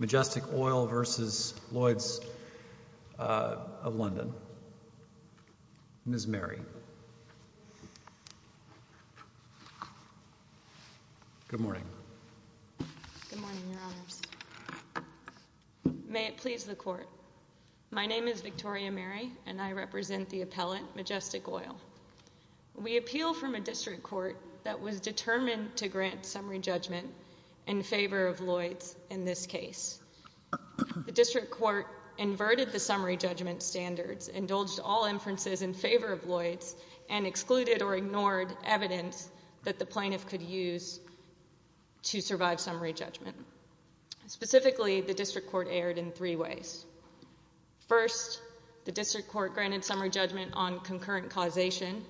Majestic Oil v. Lloyds of London. Ms. Mary. Good morning. May it please the court. My name is Victoria Mary and I represent the appellant Majestic Oil. We appeal from a district court that was determined to grant summary judgment in favor of Lloyds in this case. The district court inverted the summary judgment standards, indulged all inferences in favor of Lloyds, and excluded or ignored evidence that the plaintiff could use to survive summary judgment. Specifically, the district court erred in three ways. First, the district court granted summary judgment on classified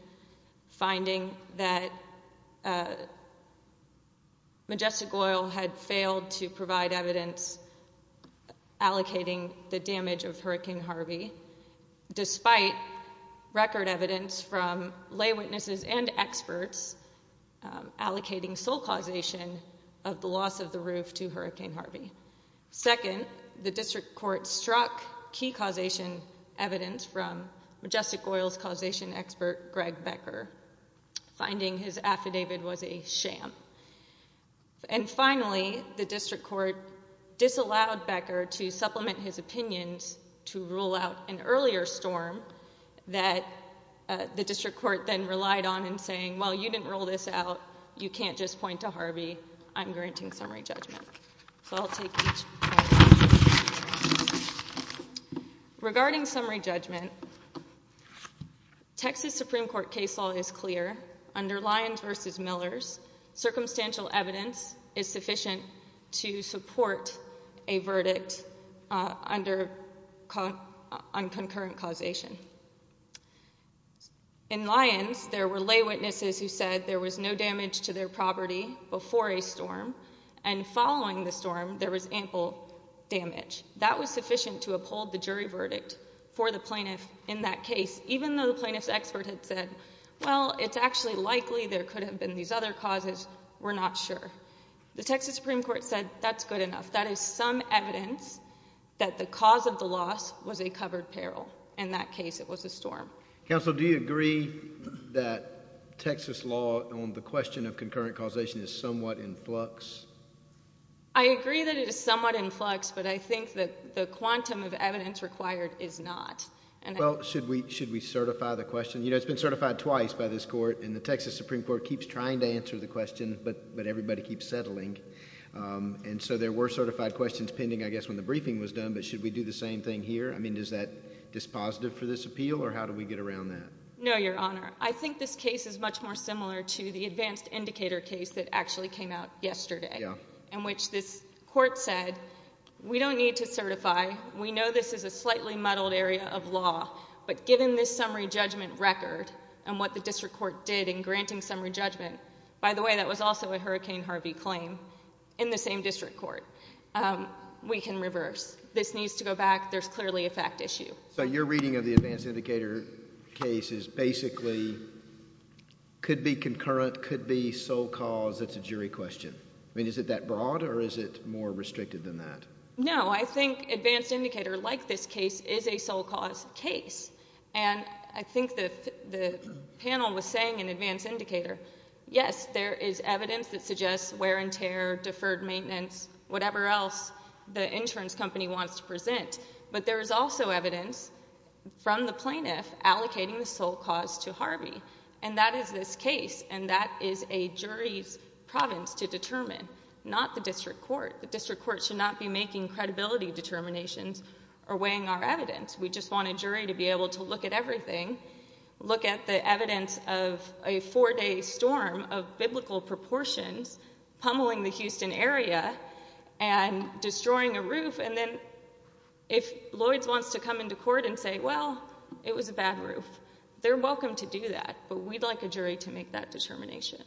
evidence allocating the damage of Hurricane Harvey, despite record evidence from lay witnesses and experts allocating sole causation of the loss of the roof to Hurricane Harvey. Second, the district court struck key causation evidence from Majestic Oil's causation expert Greg Becker, finding his affidavit was a sham. And finally, the district court disallowed Becker to supplement his opinions to rule out an earlier storm that the district court then relied on in saying, well, you didn't rule this out. You can't just point to Harvey. I'm granting summary judgment. So I'll take each. Regarding summary judgment, Texas Supreme Court case law is clear. Under Lyons v. Millers, circumstantial evidence is sufficient to support a verdict on concurrent causation. In Lyons, there were lay witnesses who said there was no damage to their property before a storm, and following the storm there was ample damage. That was sufficient to in that case, even though the plaintiff's expert had said, well, it's actually likely there could have been these other causes. We're not sure. The Texas Supreme Court said that's good enough. That is some evidence that the cause of the loss was a covered peril. In that case, it was a storm. Counsel, do you agree that Texas law on the question of concurrent causation is somewhat in flux? I agree that it is somewhat in flux, but I think that the quantum of the question is, well, should we certify the question? You know, it's been certified twice by this court, and the Texas Supreme Court keeps trying to answer the question, but everybody keeps settling. And so there were certified questions pending, I guess, when the briefing was done, but should we do the same thing here? I mean, is that dispositive for this appeal, or how do we get around that? No, Your Honor. I think this case is much more similar to the case of Hurricane Harvey. The court said, we don't need to certify. We know this is a slightly muddled area of law, but given this summary judgment record and what the district court did in granting summary judgment... by the way, that was also a Hurricane Harvey claim in the same district court. We can reverse. This needs to go back. There's clearly a fact issue. So your reading of the advanced indicator case is basically could be concurrent, could be sole cause. It's a jury question. I mean, is it that broad, or is it more restricted than that? No. I think advanced indicator, like this case, is a sole cause case. And I think the panel was saying in advanced indicator, yes, there is evidence that suggests wear and tear, deferred maintenance, whatever else the insurance company wants to present. But there is also evidence from the plaintiff allocating the sole cause to Harvey, and that is this case, and that is a jury's province to determine, not the district court. The district court should not be making credibility determinations or weighing our evidence. We just want a jury to be able to look at everything, look at the evidence of a four-day storm of biblical proportions pummeling the Houston area and destroying a roof, and then if Lloyds wants to come into court and say, well, it was a bad roof, they're welcome to do that, but we'd like a jury to make that determination.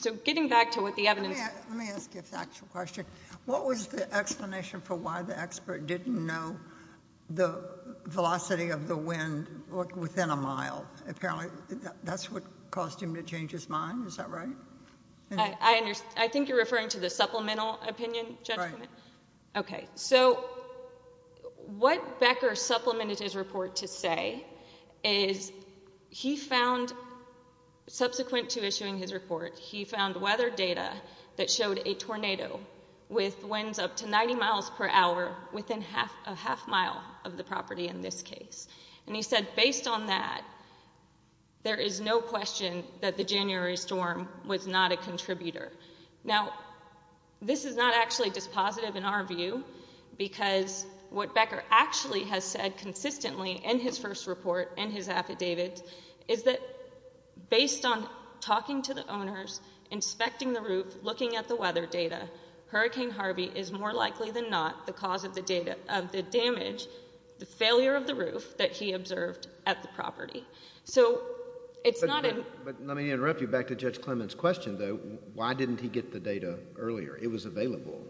So getting back to what the evidence... Let me ask you a factual question. What was the explanation for why the expert didn't know the velocity of the wind within a mile? Apparently that's what caused him to change his mind. Is that right? I think you're referring to the supplemental opinion judgment? Right. Okay, so what Becker supplemented his report to say is he found, subsequent to issuing his report, he found weather data that showed a tornado with winds up to 90 miles per hour within a half mile of the property in this case. And he said, based on that, there is no question that the this is not actually dispositive in our view because what Becker actually has said consistently in his first report and his affidavit is that based on talking to the owners, inspecting the roof, looking at the weather data, Hurricane Harvey is more likely than not the cause of the damage, the failure of the roof, that he observed at the property. So it's not... But let me interrupt you back to Judge Clement's question though. Why didn't he get the data earlier? It was available.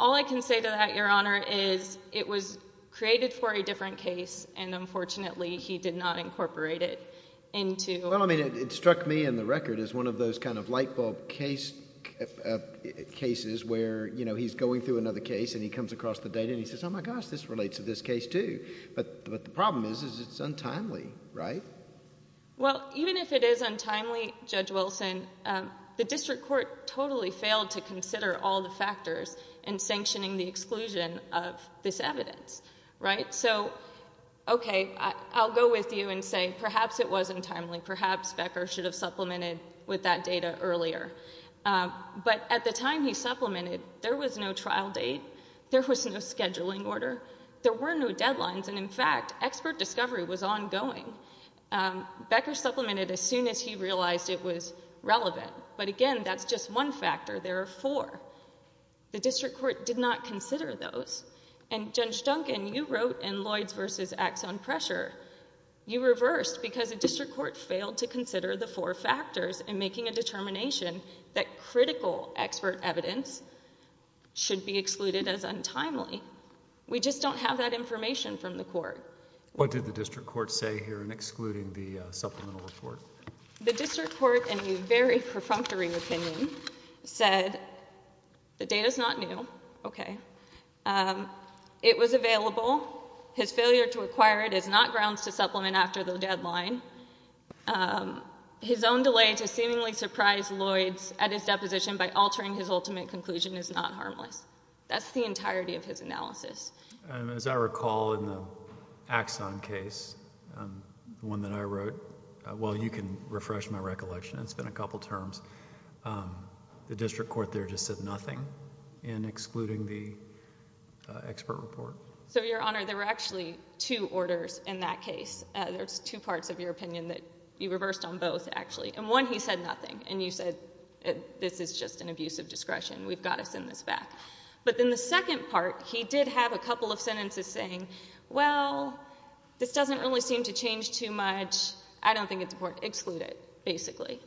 All I can say to that, Your Honor, is it was created for a different case and unfortunately he did not incorporate it into... Well, I mean, it struck me in the record as one of those kind of light bulb cases where, you know, he's going through another case and he comes across the data and he says, oh my gosh, this relates to this case too. But the problem is it's untimely, right? Well, even if it is untimely, Judge Wilson, the district court totally failed to consider all the factors in sanctioning the exclusion of this evidence, right? So okay, I'll go with you and say perhaps it was untimely, perhaps Becker should have supplemented with that data earlier. But at the time he supplemented, there was no trial date, there was no scheduling order, there were no deadlines, and in fact expert discovery was ongoing. Becker supplemented as soon as he realized it was relevant. But again, that's just one factor. There are four. The district court did not consider those. And Judge Duncan, you wrote in Lloyds v. Axon Pressure, you reversed because the district court failed to consider the four factors in making a determination that critical expert evidence should be excluded as What did the district court say here in excluding the supplemental report? The district court, in a very perfunctory opinion, said the data's not new, okay. It was available. His failure to acquire it is not grounds to supplement after the deadline. His own delay to seemingly surprise Lloyds at his deposition by altering his ultimate conclusion is not harmless. That's the entirety of his Axon case, the one that I wrote. Well, you can refresh my recollection. It's been a couple terms. The district court there just said nothing in excluding the expert report. So, Your Honor, there were actually two orders in that case. There's two parts of your opinion that you reversed on both, actually. And one, he said nothing. And you said, this is just an abuse of discretion. We've got to send this back. But then the second part, he did have a couple of sentences saying, well, this doesn't really seem to change too much. I don't think it's important to exclude it, basically.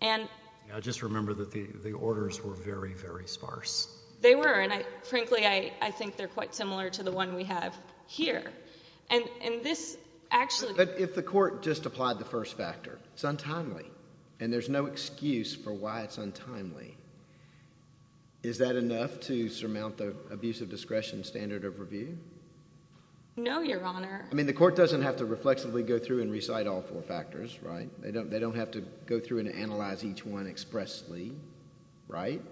And I just remember that the orders were very, very sparse. They were. And, frankly, I think they're quite similar to the one we have here. And this actually... But if the court just applied the first factor, it's untimely, and there's no excuse for why it's untimely. Is that right? No, Your Honor. I mean, the court doesn't have to reflexively go through and recite all four factors, right? They don't have to go through and analyze each one expressly, right?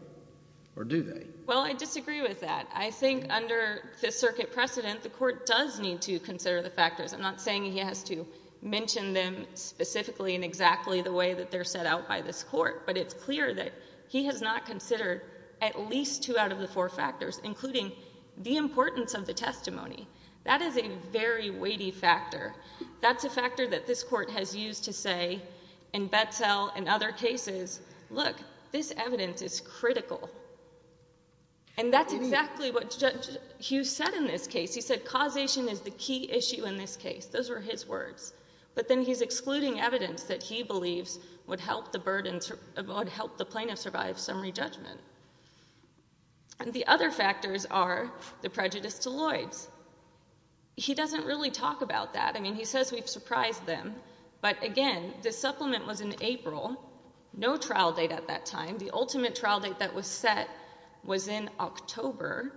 Or do they? Well, I disagree with that. I think under the circuit precedent, the court does need to consider the factors. I'm not saying he has to mention them specifically in exactly the way that they're set out by this court. But it's clear that he has not considered at least two out of the four factors, including the importance of the testimony. That is a very weighty factor. That's a factor that this court has used to say in Betzell and other cases, look, this evidence is critical. And that's exactly what Judge Hughes said in this case. He said causation is the key issue in this case. Those were his words. But then he's excluding evidence that he believes would help the plaintiff survive summary judgment. And the other factors are the prejudice to Lloyds. He doesn't really talk about that. I mean, he says we've surprised them. But again, the supplement was in April, no trial date at that time. The ultimate trial date that was set was in October.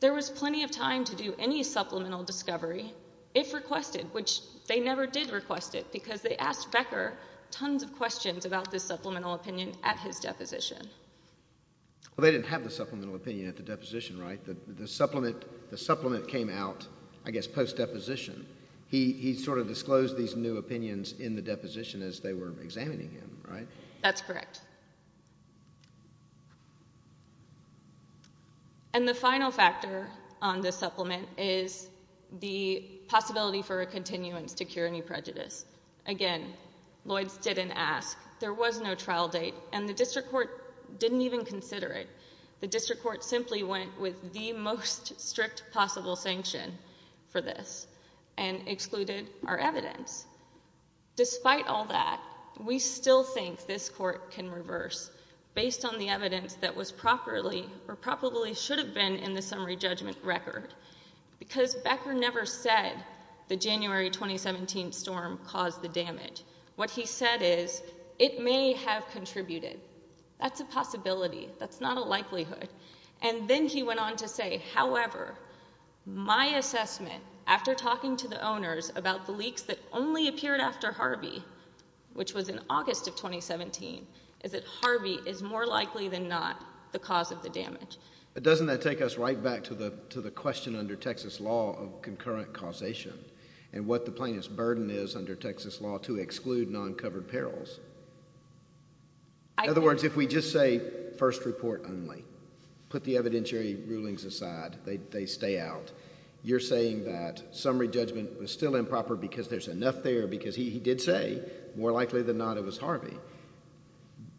There was plenty of time to do any supplemental discovery, if requested, which they never did request it because they asked Becker tons of questions about the supplemental opinion at his deposition. Well, they didn't have the supplemental opinion at the deposition, right? The supplement came out, I guess, post-deposition. He sort of disclosed these new opinions in the deposition as they were examining him, right? That's correct. And the final factor on this supplement is the possibility for a continuance to cure any prejudice. Again, Lloyds didn't ask. There was no trial date. And the district court didn't even consider it. The district court simply went with the most strict possible sanction for this and excluded our evidence. Despite all that, we still think this court can reverse based on the evidence that was properly or probably should have been in the deposition. Becker never said the January 2017 storm caused the damage. What he said is, it may have contributed. That's a possibility. That's not a likelihood. And then he went on to say, however, my assessment, after talking to the owners about the leaks that only appeared after Harvey, which was in August of 2017, is that Harvey is more likely than not the cause of the damage. But doesn't that take us right back to the question under Texas law of concurrent causation and what the plaintiff's burden is under Texas law to exclude non-covered perils? In other words, if we just say first report only, put the evidentiary rulings aside, they stay out, you're saying that summary judgment was still improper because there's enough there because he did say more likely than not it was Harvey.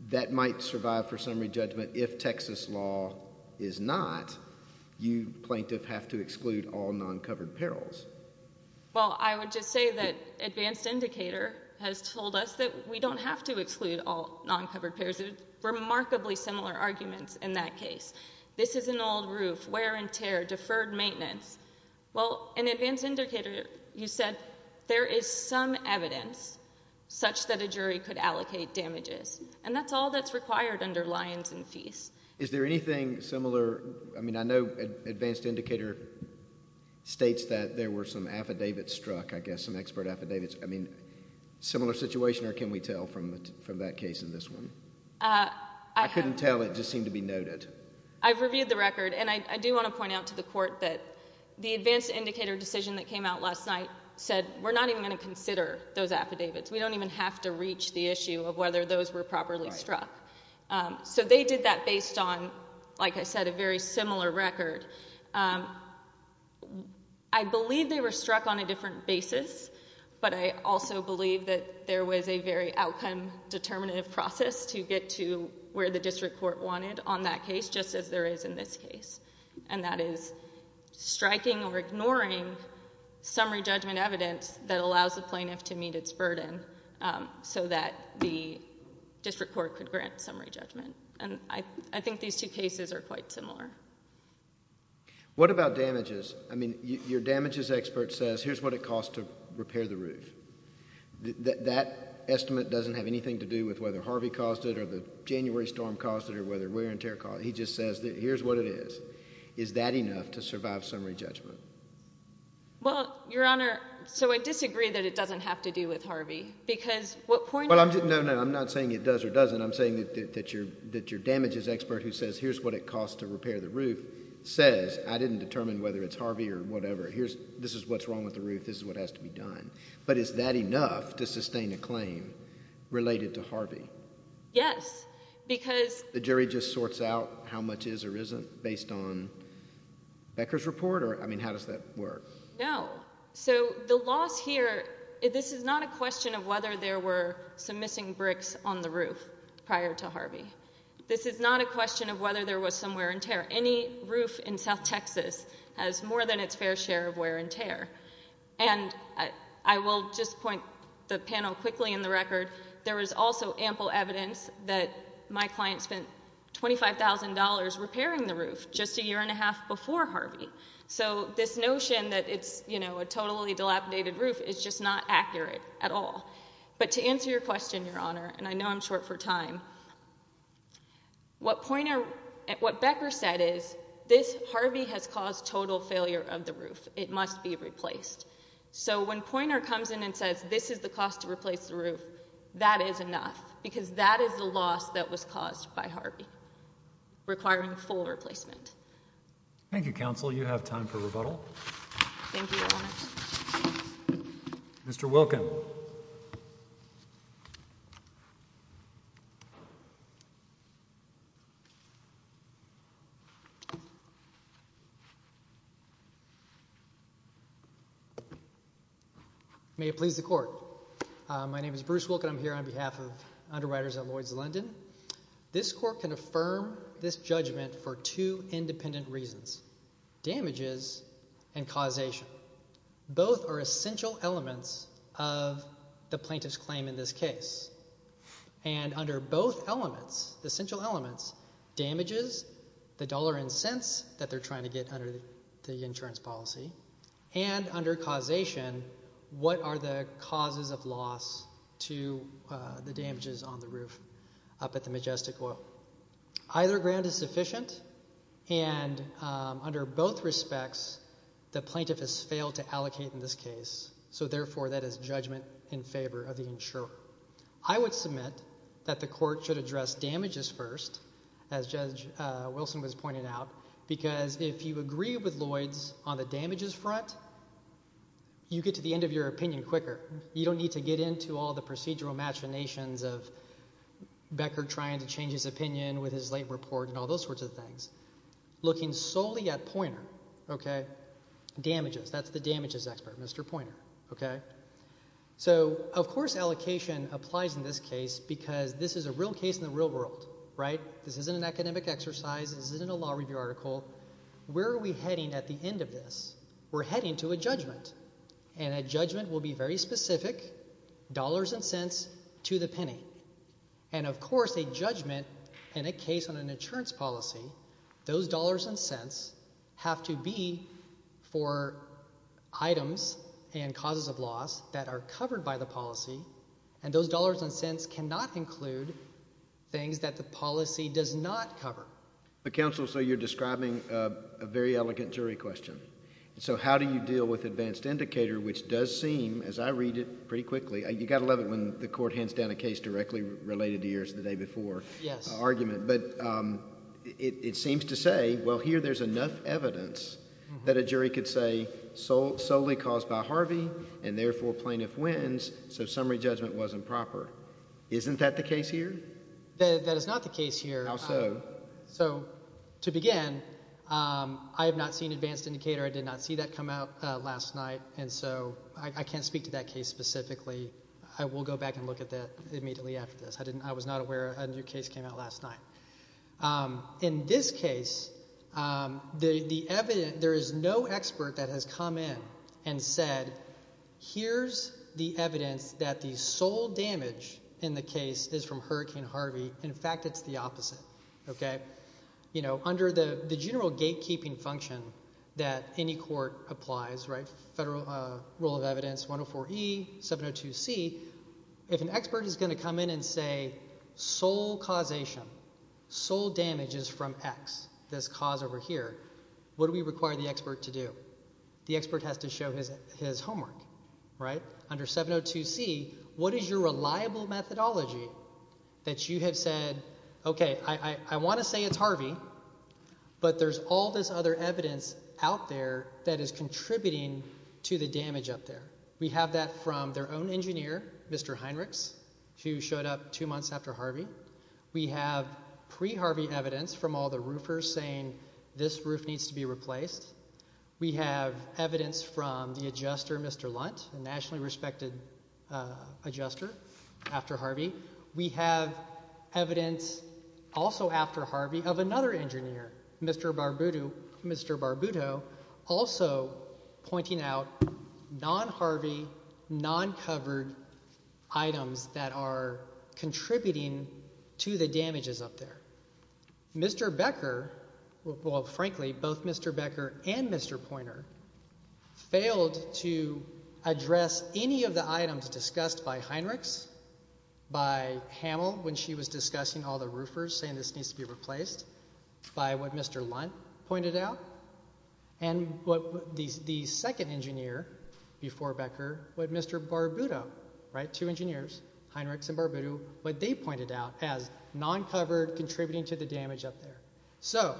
That might survive for summary judgment if it's not, you plaintiff have to exclude all non-covered perils. Well, I would just say that advanced indicator has told us that we don't have to exclude all non-covered perils. Remarkably similar arguments in that case. This is an old roof, wear and tear, deferred maintenance. Well, in advanced indicator, you said there is some evidence such that a jury could allocate damages. And that's all that's required under lines and fees. Is there anything similar? I mean, I know advanced indicator states that there were some affidavits struck, I guess, some expert affidavits. I mean, similar situation or can we tell from that case in this one? I couldn't tell, it just seemed to be noted. I've reviewed the record and I do want to point out to the court that the advanced indicator decision that came out last night said we're not even going to consider those affidavits. We don't even have to reach the issue of those were properly struck. So they did that based on, like I said, a very similar record. I believe they were struck on a different basis, but I also believe that there was a very outcome determinative process to get to where the district court wanted on that case, just as there is in this case. And that is striking or ignoring summary judgment evidence that allows the plaintiff to maintain its burden so that the district court could grant summary judgment. And I think these two cases are quite similar. What about damages? I mean, your damages expert says, here's what it costs to repair the roof. That estimate doesn't have anything to do with whether Harvey caused it or the January storm caused it or whether Warren Terry caused it. He just says here's what it is. Is that enough to survive summary judgment? Well, Your Honor, so I disagree that it doesn't have to do with Harvey because what point? No, no, I'm not saying it does or doesn't. I'm saying that your damages expert who says here's what it costs to repair the roof says I didn't determine whether it's Harvey or whatever. Here's this is what's wrong with the roof. This is what has to be done. But is that enough to sustain a claim related to Harvey? Yes, because the jury just sorts out how much is or isn't based on Becker's report? Or I mean, how does that work? No. So the loss here, this is not a question of whether there were some missing bricks on the roof prior to Harvey. This is not a question of whether there was some wear and tear. Any roof in South Texas has more than its fair share of wear and tear. And I will just point the panel quickly in the record. There is also ample evidence that my client spent $25,000 repairing the roof just a year and a half before Harvey. So this notion that it's, you know, a totally dilapidated roof is just not accurate at all. But to answer your question, Your Honor, and I know I'm short for time, what pointer what Becker said is this Harvey has caused total failure of the roof. It must be replaced. So when pointer comes in and says this is the cost to replace the roof, that is enough because that is the loss that was caused by Harvey requiring full replacement. Thank you, Counsel. You have time for rebuttal. Thank you, Your Honor. Mr. Welcome. Thank you. May it please the court. My name is Bruce Wilk, and I'm here on behalf of underwriters at Lloyd's London. This court can affirm this judgment for two the plaintiff's claim in this case and under both elements, the central elements, damages the dollar and cents that they're trying to get under the insurance policy and under causation, what are the causes of loss to the damages on the roof up at the Majestic Oil? Either grant is sufficient, and under both respects, the plaintiff has failed to allocate in this case. So therefore, that is judgment in favor of the insurer. I would submit that the court should address damages first, as Judge Wilson was pointing out, because if you agree with Lloyd's on the damages front, you get to the end of your opinion quicker. You don't need to get into all the procedural machinations of Becker trying to change his opinion with his late report and all those sorts of things. Looking solely at pointer, okay, damages. That's the So, of course, allocation applies in this case because this is a real case in the real world, right? This isn't an academic exercise. This isn't a law review article. Where are we heading at the end of this? We're heading to a judgment, and a judgment will be very specific, dollars and cents to the penny. And of course, a judgment in a case on an insurance policy, those dollars and cents have to be for items and causes of loss that are covered by the policy, and those dollars and cents cannot include things that the policy does not cover. But counsel, so you're describing a very elegant jury question. So how do you deal with advanced indicator, which does seem, as I read it pretty quickly, you got to love it when the court hands down a case directly related to yours the day before argument. But it seems to say, well, here there's enough evidence that a jury could say solely caused by Harvey, and therefore plaintiff wins, so summary judgment wasn't proper. Isn't that the case here? That is not the case here. How so? So to begin, I have not seen advanced indicator. I did not see that come out last night, and so I can't speak to that case specifically. I will go back and look at that immediately after this. I was not aware a new case came out last night. In this case, there is no expert that has come in and said, here's the evidence that the sole damage in the case is from Hurricane Harvey. In fact, it's the opposite. Under the general gatekeeping function that any court applies, federal rule of law, if you come in and say sole causation, sole damage is from X, this cause over here, what do we require the expert to do? The expert has to show his homework, right? Under 702C, what is your reliable methodology that you have said, okay, I want to say it's Harvey, but there's all this other evidence out there that is contributing to the damage up there. We have that from their own engineer, Mr. Heinrichs, who showed up two months after Harvey. We have pre-Harvey evidence from all the roofers saying this roof needs to be replaced. We have evidence from the adjuster, Mr. Lunt, a nationally respected adjuster after Harvey. We have evidence also after Harvey of another items that are contributing to the damages up there. Mr. Becker, well, frankly, both Mr. Becker and Mr. Pointer failed to address any of the items discussed by Heinrichs, by Hamill when she was discussing all the roofers saying this needs to be replaced, by what Mr. Lunt pointed out, and the second engineer before Becker, what Mr. Barbuto, right, two engineers, Heinrichs and Barbuto, what they pointed out as non-covered contributing to the damage up there. So,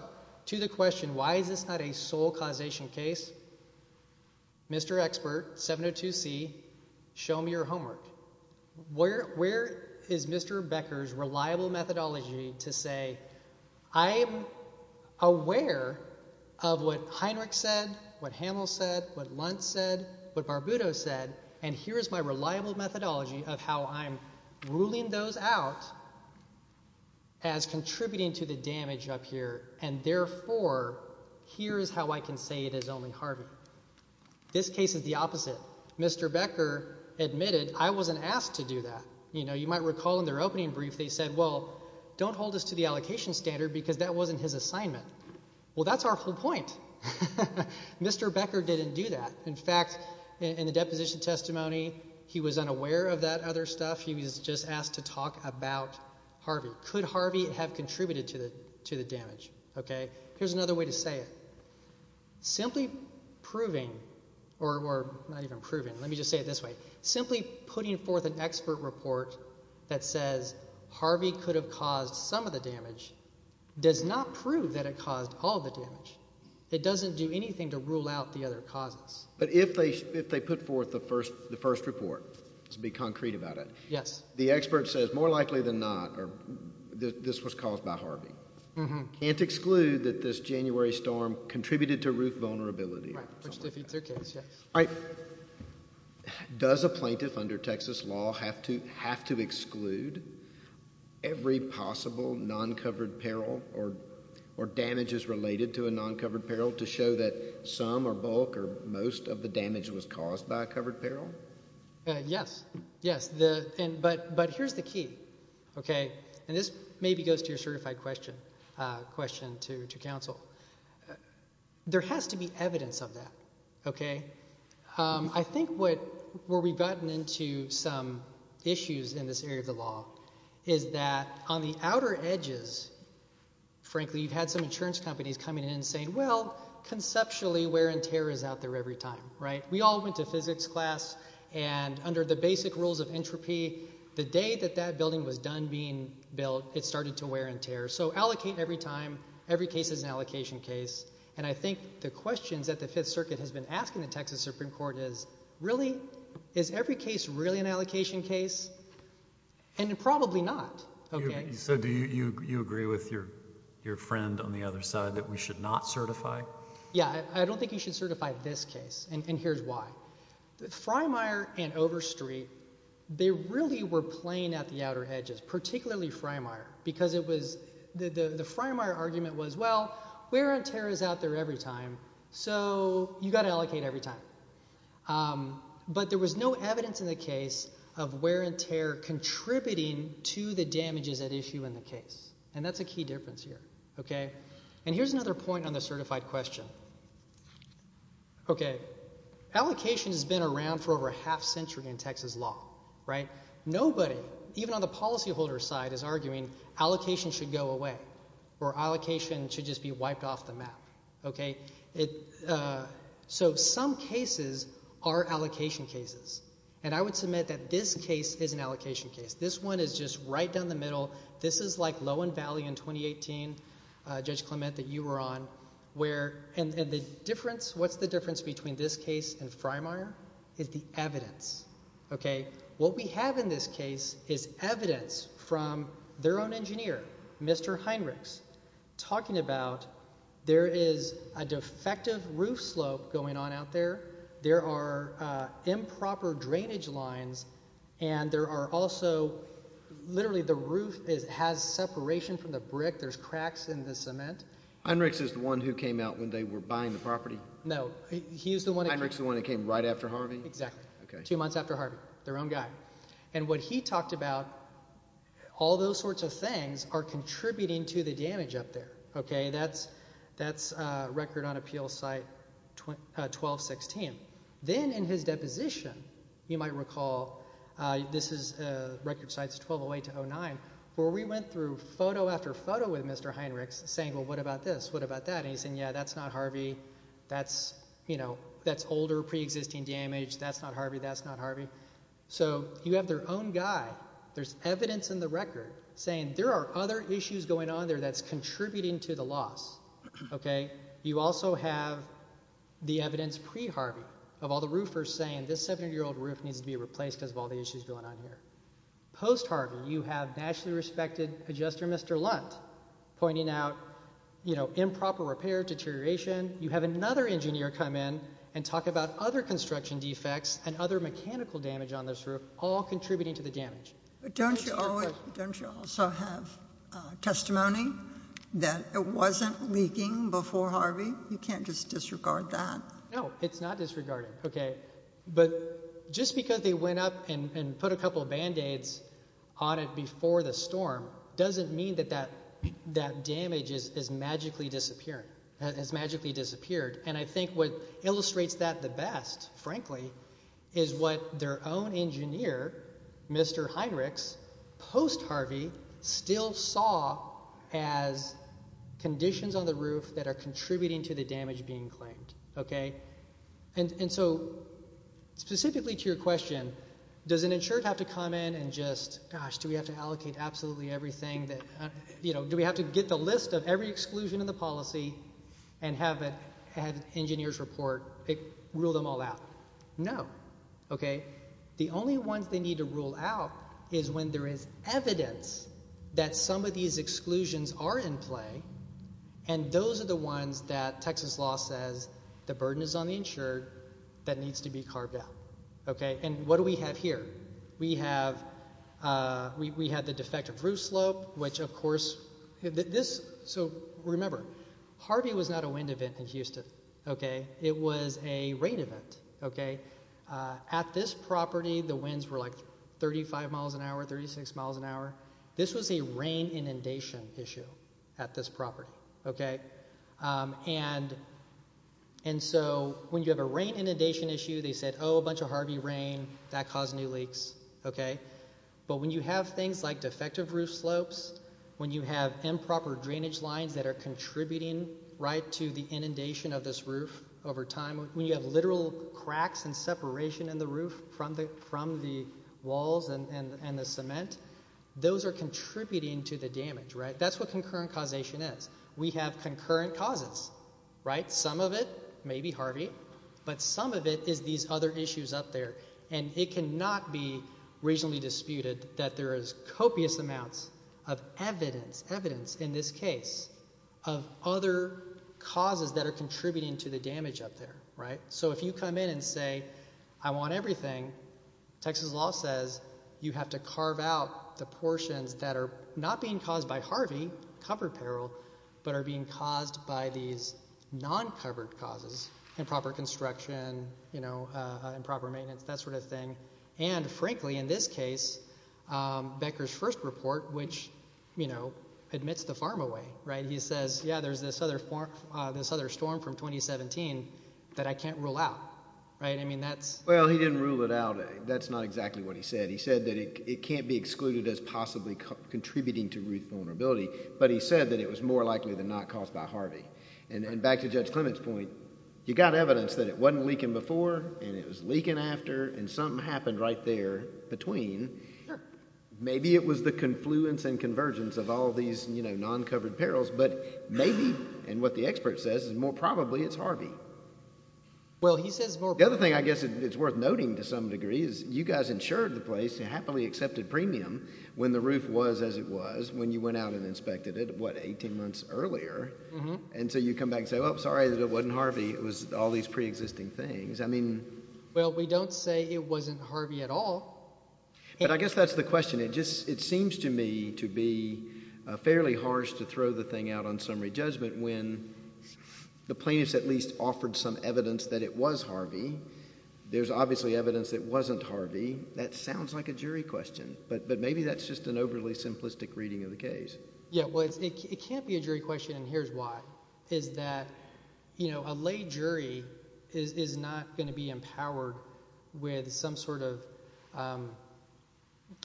to the question, why is this not a sole causation case? Mr. Expert, 702C, show me your homework. Where is Mr. Becker's homework? Mr. Becker said what Lunt said, what Barbuto said, and here is my reliable methodology of how I'm ruling those out as contributing to the damage up here, and therefore, here is how I can say it is only Harvey. This case is the opposite. Mr. Becker admitted, I wasn't asked to do that. You know, you might recall in their opening brief, they said, well, don't hold us to the allocation standard because that wasn't his assignment. Well, that's our whole point. Mr. Becker didn't do that. In fact, in the deposition testimony, he was unaware of that other stuff. He was just asked to talk about Harvey. Could Harvey have contributed to the damage? Okay. Here's another way to say it. Simply proving, or not even proving, let me just say it this way. Simply putting forth an expert report that says Harvey could have caused some of the damage does not prove that it caused all the damage. It doesn't do anything to rule out the other causes. But if they put forth the first report, to be concrete about it, the expert says more likely than not, this was caused by Harvey. Can't exclude that this January storm contributed to roof vulnerability. Right. Which defeats their case, yes. All right. Does a plaintiff under Texas law have to exclude every possible non-covered peril or damages related to a non-covered peril to show that some or bulk or most of the damage was caused by a covered peril? Yes. Yes. But here's the key. Okay. And this maybe goes to your certified question to counsel. There has to be evidence of that. Okay. I think where we've gotten into some issues in this area of the law is that on the outer edges, frankly you've had some insurance companies coming in and saying, well, conceptually wear and tear is out there every time. Right. We all went to physics class and under the basic rules of entropy, the day that that building was done being built, it started to wear and tear. So allocate every time, every case is an allocation case. And I think the questions that the Fifth Circuit has been asking the Texas Supreme Court is, really, is every case really an allocation case? And probably not. Okay. So do you agree with your friend on the other side that we should not certify? Yeah. I don't think you should certify this case. And here's why. Freymire and Overstreet, they really were playing at the outer edges, particularly Freymire, because it was, the Freymire argument was, well, wear and tear is out there every time, so you've got to allocate every time. But there was no evidence in the case of wear and tear contributing to the damages at issue in the case. And that's a key difference here. Okay. And here's another point on the certified question. Okay. Allocation has been around for over a half century in Texas law. Right. Nobody, even on the policyholder side, is arguing allocation should go away, or allocation should just be wiped off the map. Okay. So some cases are allocation cases. And I would submit that this case is an allocation case. This one is just right down the middle. This is like Lowen Valley in 2018, Judge Clement, that you were on, where, and the difference, what's the difference between this case and Freymire? Is the evidence. Okay. What we have in this case is evidence from their own engineer, Mr. Heinrichs, talking about there is a defective roof slope going on out there. There are improper drainage lines. And there are also, literally, the roof has separation from the brick. There's cracks in the cement. Heinrichs is the one who came out when they were buying the property? No. He's the one. Heinrichs is the one who came right after Harvey? Exactly. Okay. Two months after Harvey. Their own guy. And what he talked about, all those sorts of things are contributing to the damage up there. Okay. That's record on appeal site 1216. Then in his deposition, you might recall, this is record sites 1208-09, where we went through photo after photo with Mr. Heinrichs saying, well, what about this? What about that? And he said, yeah, that's not Harvey. That's older, pre-existing damage. That's not Harvey. That's not Harvey. So you have their own guy. There's evidence in the record saying there are other issues going on there that's contributing to the loss. Okay. You also have the evidence pre-Harvey of all the roofers saying this 700-year-old roof needs to be replaced because of all the issues going on here. Post-Harvey, you have nationally respected adjuster, Mr. Lunt, pointing out improper repair, deterioration. You have another engineer come in and talk about other construction defects and other mechanical damage on this roof, all contributing to the damage. But don't you also have testimony that it wasn't leaking before Harvey? You can't just disregard that. No, it's not disregarding. Okay. But just because they went up and put a couple of Band-Aids on it before the storm doesn't mean that that damage has magically disappeared. And I think what illustrates that the best, frankly, is what their own engineer, Mr. Heinrichs, post-Harvey, still saw as conditions on the roof that are contributing to the damage being claimed. Okay. And so specifically to your question, does an engineer have to allocate absolutely everything that, you know, do we have to get the list of every exclusion in the policy and have an engineer's report rule them all out? No. Okay. The only ones they need to rule out is when there is evidence that some of these exclusions are in play and those are the ones that Texas law says the burden is on the insured that needs to be carved out. Okay. And what do we have here? We have the defective roof slope, which, of course, this, so remember, Harvey was not a wind event in Houston. Okay. It was a rain event. Okay. At this property, the winds were like 35 miles an hour, 36 miles an hour. This was a rain inundation issue at this property. Okay. And so when you have a rain inundation issue, they said, oh, a bunch of Harvey rain, that caused new leaks. Okay. But when you have things like defective roof slopes, when you have improper drainage lines that are contributing, right, to the inundation of this roof over time, when you have literal cracks and separation in the roof from the walls and the cement, those are contributing to the damage, right? That's what concurrent causation is. We have concurrent causes, right? Some of it, maybe Harvey, but some of it is these other issues up there. And it cannot be reasonably disputed that there is copious amounts of evidence, evidence in this case, of other causes that are contributing to the damage up there, right? So if you come in and say, I want everything, Texas law says you have to carve out the portions that are not being caused by Harvey, cover peril, but are being caused by these non-covered causes, improper construction, you know, improper maintenance, that sort of thing. And frankly, in this case, Becker's first report, which, you know, admits the farm away, right? He says, yeah, there's this other storm from 2017 that I can't rule out, right? I mean, that's... Well, he didn't rule it out. That's not exactly what he said. He said that it can't be excluded as possibly contributing to roof vulnerability, but he said that it was more likely than not caused by Harvey. And back to Judge Clement's point, you got evidence that it wasn't leaking before, and it was leaking after, and something happened right there between. Maybe it was the confluence and convergence of all these, you know, non-covered perils, but maybe, and what the expert says is more probably it's Harvey. Well, he says more... The other thing I guess it's worth noting to some degree is you guys insured the place, you happily accepted premium when the roof was as it was when you went out and inspected it, what, 18 months earlier? And so you come back and say, well, sorry that it wasn't Harvey. It was all these pre-existing things. I mean... Well, we don't say it wasn't Harvey at all. But I guess that's the question. It just, it seems to me to be fairly harsh to throw the thing out on summary judgment when the plaintiffs at least offered some evidence that it was Harvey. There's obviously evidence that wasn't Harvey. That sounds like a jury question, but maybe that's just an overly simplistic reading of the case. Yeah, well, it can't be a jury question, and here's why, is that, you know, a lay jury is not going to be empowered with some sort of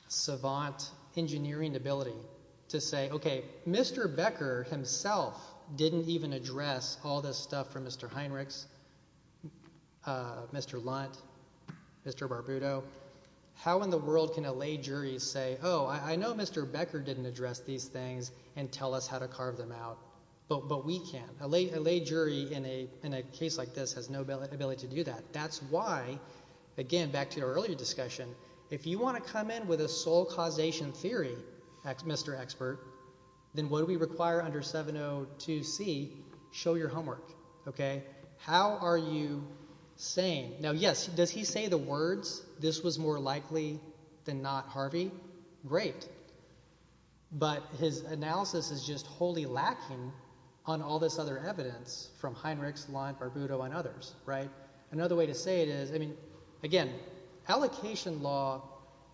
savant engineering ability to say, okay, Mr. Becker himself didn't even do this. How in the world can a lay jury say, oh, I know Mr. Becker didn't address these things and tell us how to carve them out, but we can't. A lay jury in a case like this has no ability to do that. That's why, again, back to our earlier discussion, if you want to come in with a sole causation theory, Mr. Expert, then what do we require under 702C? Show your homework, okay? How are you saying? Now, yes, does he say the words, this was more likely than not Harvey? Great, but his analysis is just wholly lacking on all this other evidence from Heinrichs, Lunt, Barbuto, and others, right? Another way to say it is, I mean, again, allocation law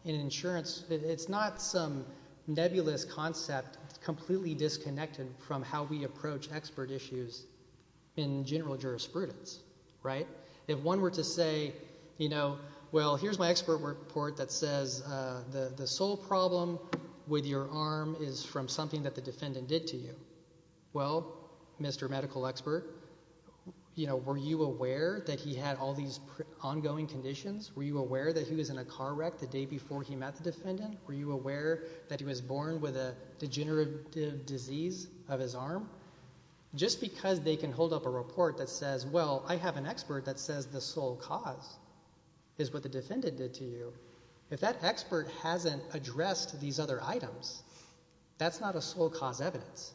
in insurance, it's not some nebulous concept completely disconnected from how we approach expert issues in general jurisprudence, right? If one were to say, you know, well, here's my expert report that says the sole problem with your arm is from something that the defendant did to you. Well, Mr. Medical Expert, you know, were you aware that he had all these ongoing conditions? Were you aware that he was in a car wreck the day before he met the defendant? Were you aware that he was born with a degenerative disease of his arm? Just because they can hold up a report that says, well, I have an expert that says the sole cause is what the defendant did to you, if that expert hasn't addressed these other items, that's not a sole cause evidence,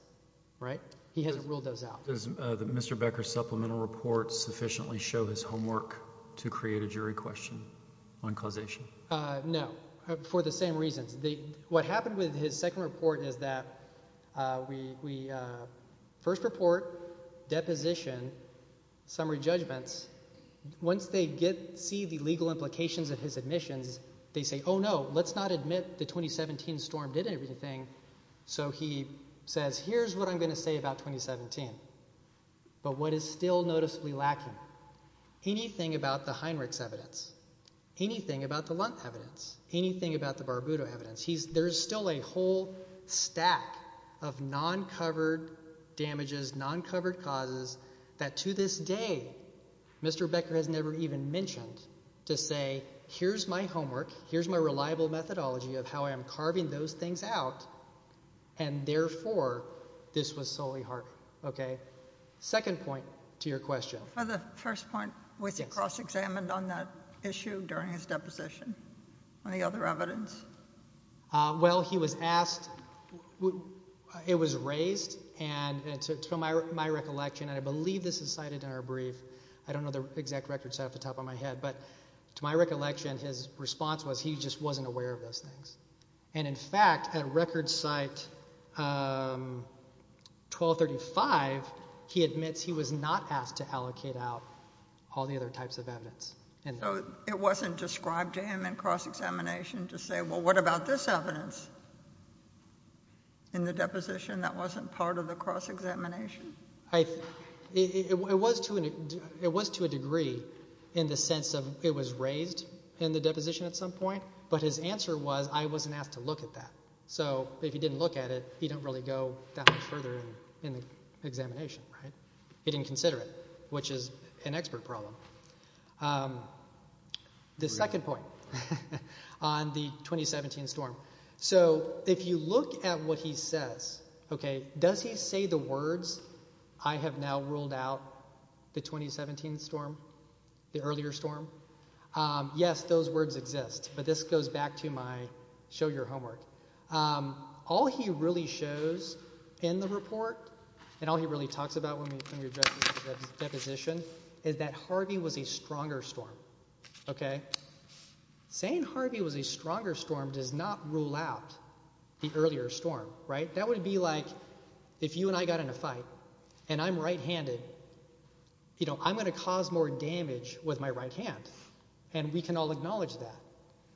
right? He hasn't ruled those out. Does Mr. Becker's supplemental report sufficiently show his homework to create a jury question on causation? No, for the first report, deposition, summary judgments, once they get, see the legal implications of his admissions, they say, oh no, let's not admit the 2017 storm did everything, so he says, here's what I'm going to say about 2017, but what is still noticeably lacking? Anything about the Heinrichs evidence, anything about the Lunt evidence, anything about the Barbudo evidence, he's, there's still a non-covered damages, non-covered causes, that to this day, Mr. Becker has never even mentioned, to say, here's my homework, here's my reliable methodology of how I am carving those things out, and therefore, this was solely harm, okay? Second point to your question. For the first point, was he cross-examined on that issue during his deposition? Any other evidence? Well, he was asked, it was raised, and to my recollection, and I believe this is cited in our brief, I don't know the exact records at the top of my head, but to my recollection, his response was, he just wasn't aware of those things, and in fact, at a record site, 1235, he admits he was not asked to allocate out all the other types of evidence. And so, it wasn't described to him in cross-examination to say, well, what about this evidence in the deposition that wasn't part of the cross-examination? I, it was to, it was to a degree in the sense of, it was raised in the deposition at some point, but his answer was, I wasn't asked to look at that. So, if he didn't look at it, he didn't really go that much further in the examination, right? He didn't consider it, which is an expert problem. The second point on the 2017 storm. So, if you look at what he says, okay, does he say the words, I have now ruled out the 2017 storm, the earlier storm? Yes, those words exist, but this goes back to my show your homework. All he really shows in the report, and all he really talks about when we address the deposition, is that saying Harvey was a stronger storm does not rule out the earlier storm, right? That would be like, if you and I got in a fight, and I'm right-handed, you know, I'm gonna cause more damage with my right hand, and we can all acknowledge that,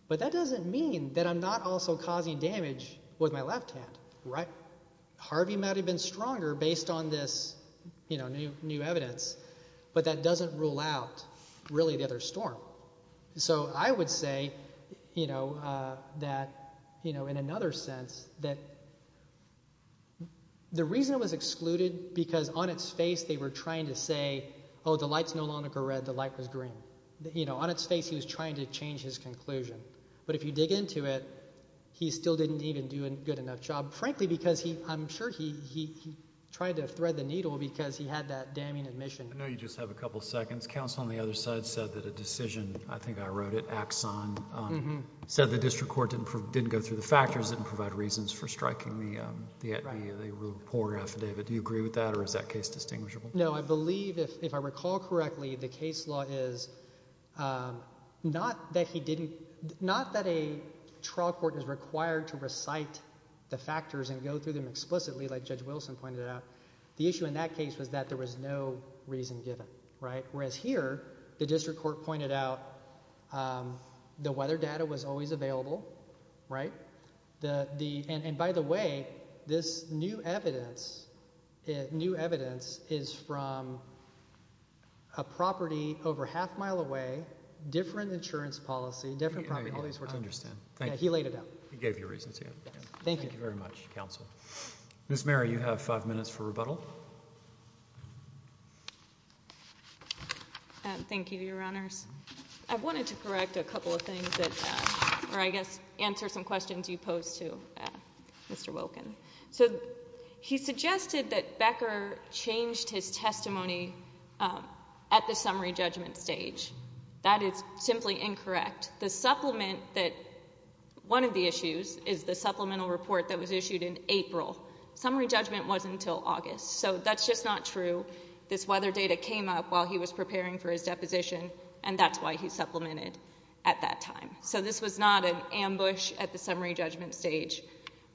but that doesn't mean that I'm not also causing damage with my left hand, right? Harvey might have been stronger based on this, you know, new, new evidence, but that doesn't rule out, really, the other storm. So, I would say, you know, that, you know, in another sense, that the reason it was excluded, because on its face, they were trying to say, oh, the lights no longer go red, the light was green. You know, on its face, he was trying to change his conclusion, but if you dig into it, he still didn't even do a good enough job, frankly, because he, I'm sure he, he tried to thread the needle, because he had that damning admission. I know you just have a second. Counsel on the other side said that a decision, I think I wrote it, Axon, said the district court didn't prove, didn't go through the factors, didn't provide reasons for striking the, the, the report affidavit. Do you agree with that, or is that case distinguishable? No, I believe, if, if I recall correctly, the case law is, not that he didn't, not that a trial court is required to recite the factors and go through them explicitly, like Judge Wilson pointed out. The issue in that case was that there was no reason given, right? Whereas here, the district court pointed out the weather data was always available, right? The, the, and, and by the way, this new evidence, new evidence is from a property over half mile away, different insurance policy, different property, all these words. I understand. Thank you. He laid it out. He gave you reasons. Thank you very much, counsel. Ms. Merri, you have five minutes for rebuttal. Thank you, Your Honors. I wanted to correct a couple of things that, or I guess answer some questions you posed to Mr. Wilkin. So he suggested that Becker changed his testimony at the summary judgment stage. That is simply incorrect. The supplement that one of the issues is the supplemental report that was issued in April. Summary judgment wasn't until August. So that's just not true. This weather data came up while he was preparing for his deposition, and that's why he supplemented at that time. So this was not an ambush at the summary judgment stage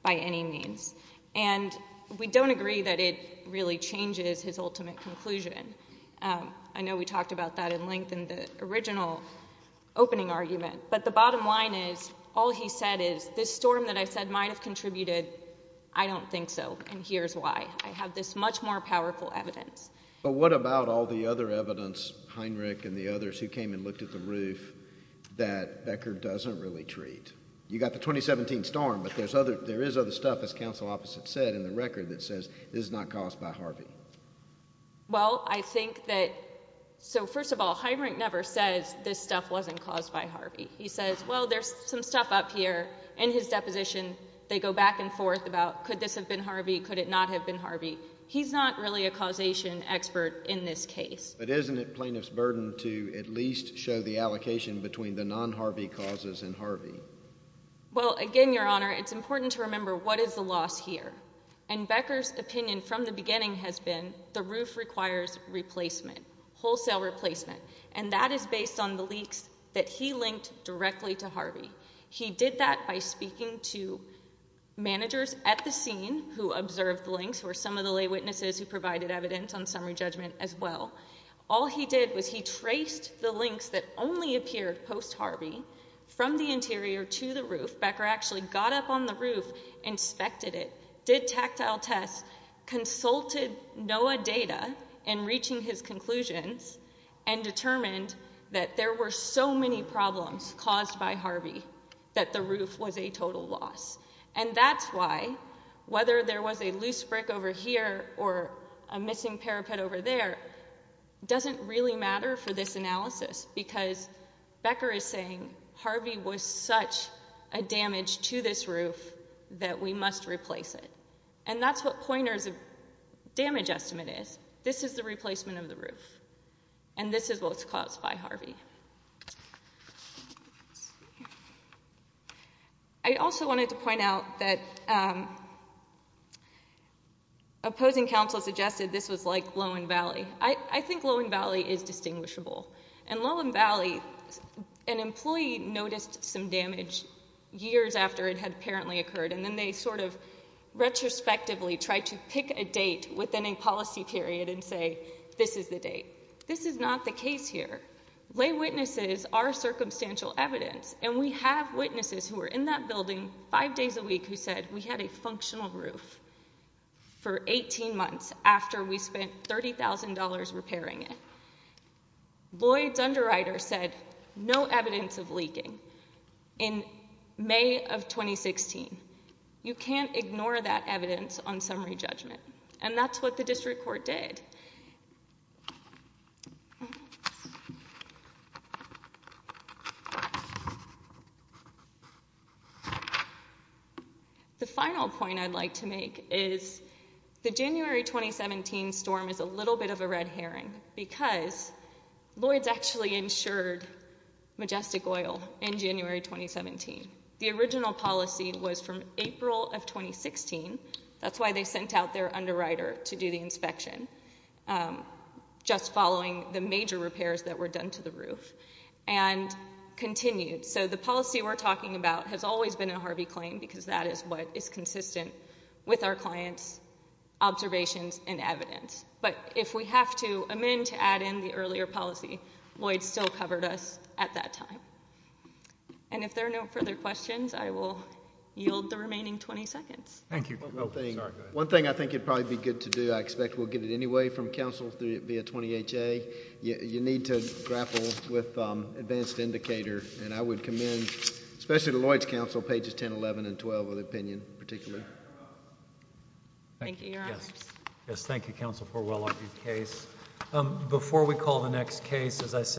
by any means. And we don't agree that it really changes his ultimate conclusion. I know we talked about that in length in the original opening argument, but the bottom line is, all he said is, this storm that I said might have contributed. I don't think so. And here's why. I have this much more powerful evidence. But what about all the other evidence, Heinrich and the others who came and looked at the roof that Becker doesn't really treat? You got the 2017 storm, but there's other there is other stuff, as counsel opposite said in the record that says it is not caused by Harvey. Well, I think that so first of all, Heinrich never says this stuff wasn't caused by Harvey. He says, Well, there's some stuff up here in his deposition. They go back and forth about could this have been Harvey? Could it not have been Harvey? He's not really a causation expert in this case. But isn't it plaintiff's burden to at least show the allocation between the non Harvey causes and Harvey? Well, again, Your Honor, it's important to remember what is the loss here and Becker's opinion from the beginning has been the roof requires replacement wholesale replacement, and that is based on the that he linked directly to Harvey. He did that by speaking to managers at the scene who observed links were some of the lay witnesses who provided evidence on summary judgment as well. All he did was he traced the links that only appeared post Harvey from the interior to the roof. Becker actually got up on the roof, inspected it, did tactile tests, consulted Noah data and reaching his conclusions and determined that there were so many problems caused by Harvey that the roof was a total loss. And that's why, whether there was a loose brick over here or a missing parapet over there, doesn't really matter for this analysis because Becker is saying Harvey was such a damage to this roof that we must replace it. And that's what pointers of damage estimate is. This is the replacement of the roof, and this is what's caused by Harvey. I also wanted to point out that opposing counsel suggested this was like Lohan Valley. I think Lohan Valley is distinguishable and Lohan Valley. An employee noticed some damage years after it had apparently occurred, and then they sort of retrospectively tried to pick a date within a policy period and say this is the date. This is not the case here. Lay witnesses are circumstantial evidence, and we have witnesses who were in that building five days a week who said we had a functional roof for 18 months after we spent $30,000 repairing it. Lloyd's underwriter said no evidence of leaking in May of 2016. You can't And that's what the district court did. The final point I'd like to make is the January 2017 storm is a little bit of a red herring because Lloyd's actually insured Majestic Oil in January 2017. The original policy was from April of 2016. That's why they sent out their underwriter to do the inspection just following the major repairs that were done to the roof and continued. So the policy we're talking about has always been a Harvey claim because that is what is consistent with our clients, observations and evidence. But if we have to amend to add in the earlier policy, Lloyd's still covered us at that time. And if there are no further questions, I will yield the remaining 20 seconds. Thank you. One thing I think it probably good to do. I expect we'll get it anyway from Council via 20 H. A. You need to grapple with advanced indicator, and I would commend especially Lloyd's Council pages 10 11 and 12 of the opinion particularly. Thank you. Yes. Yes. Thank you. Council for well argued case. Before we call the next case, as I said,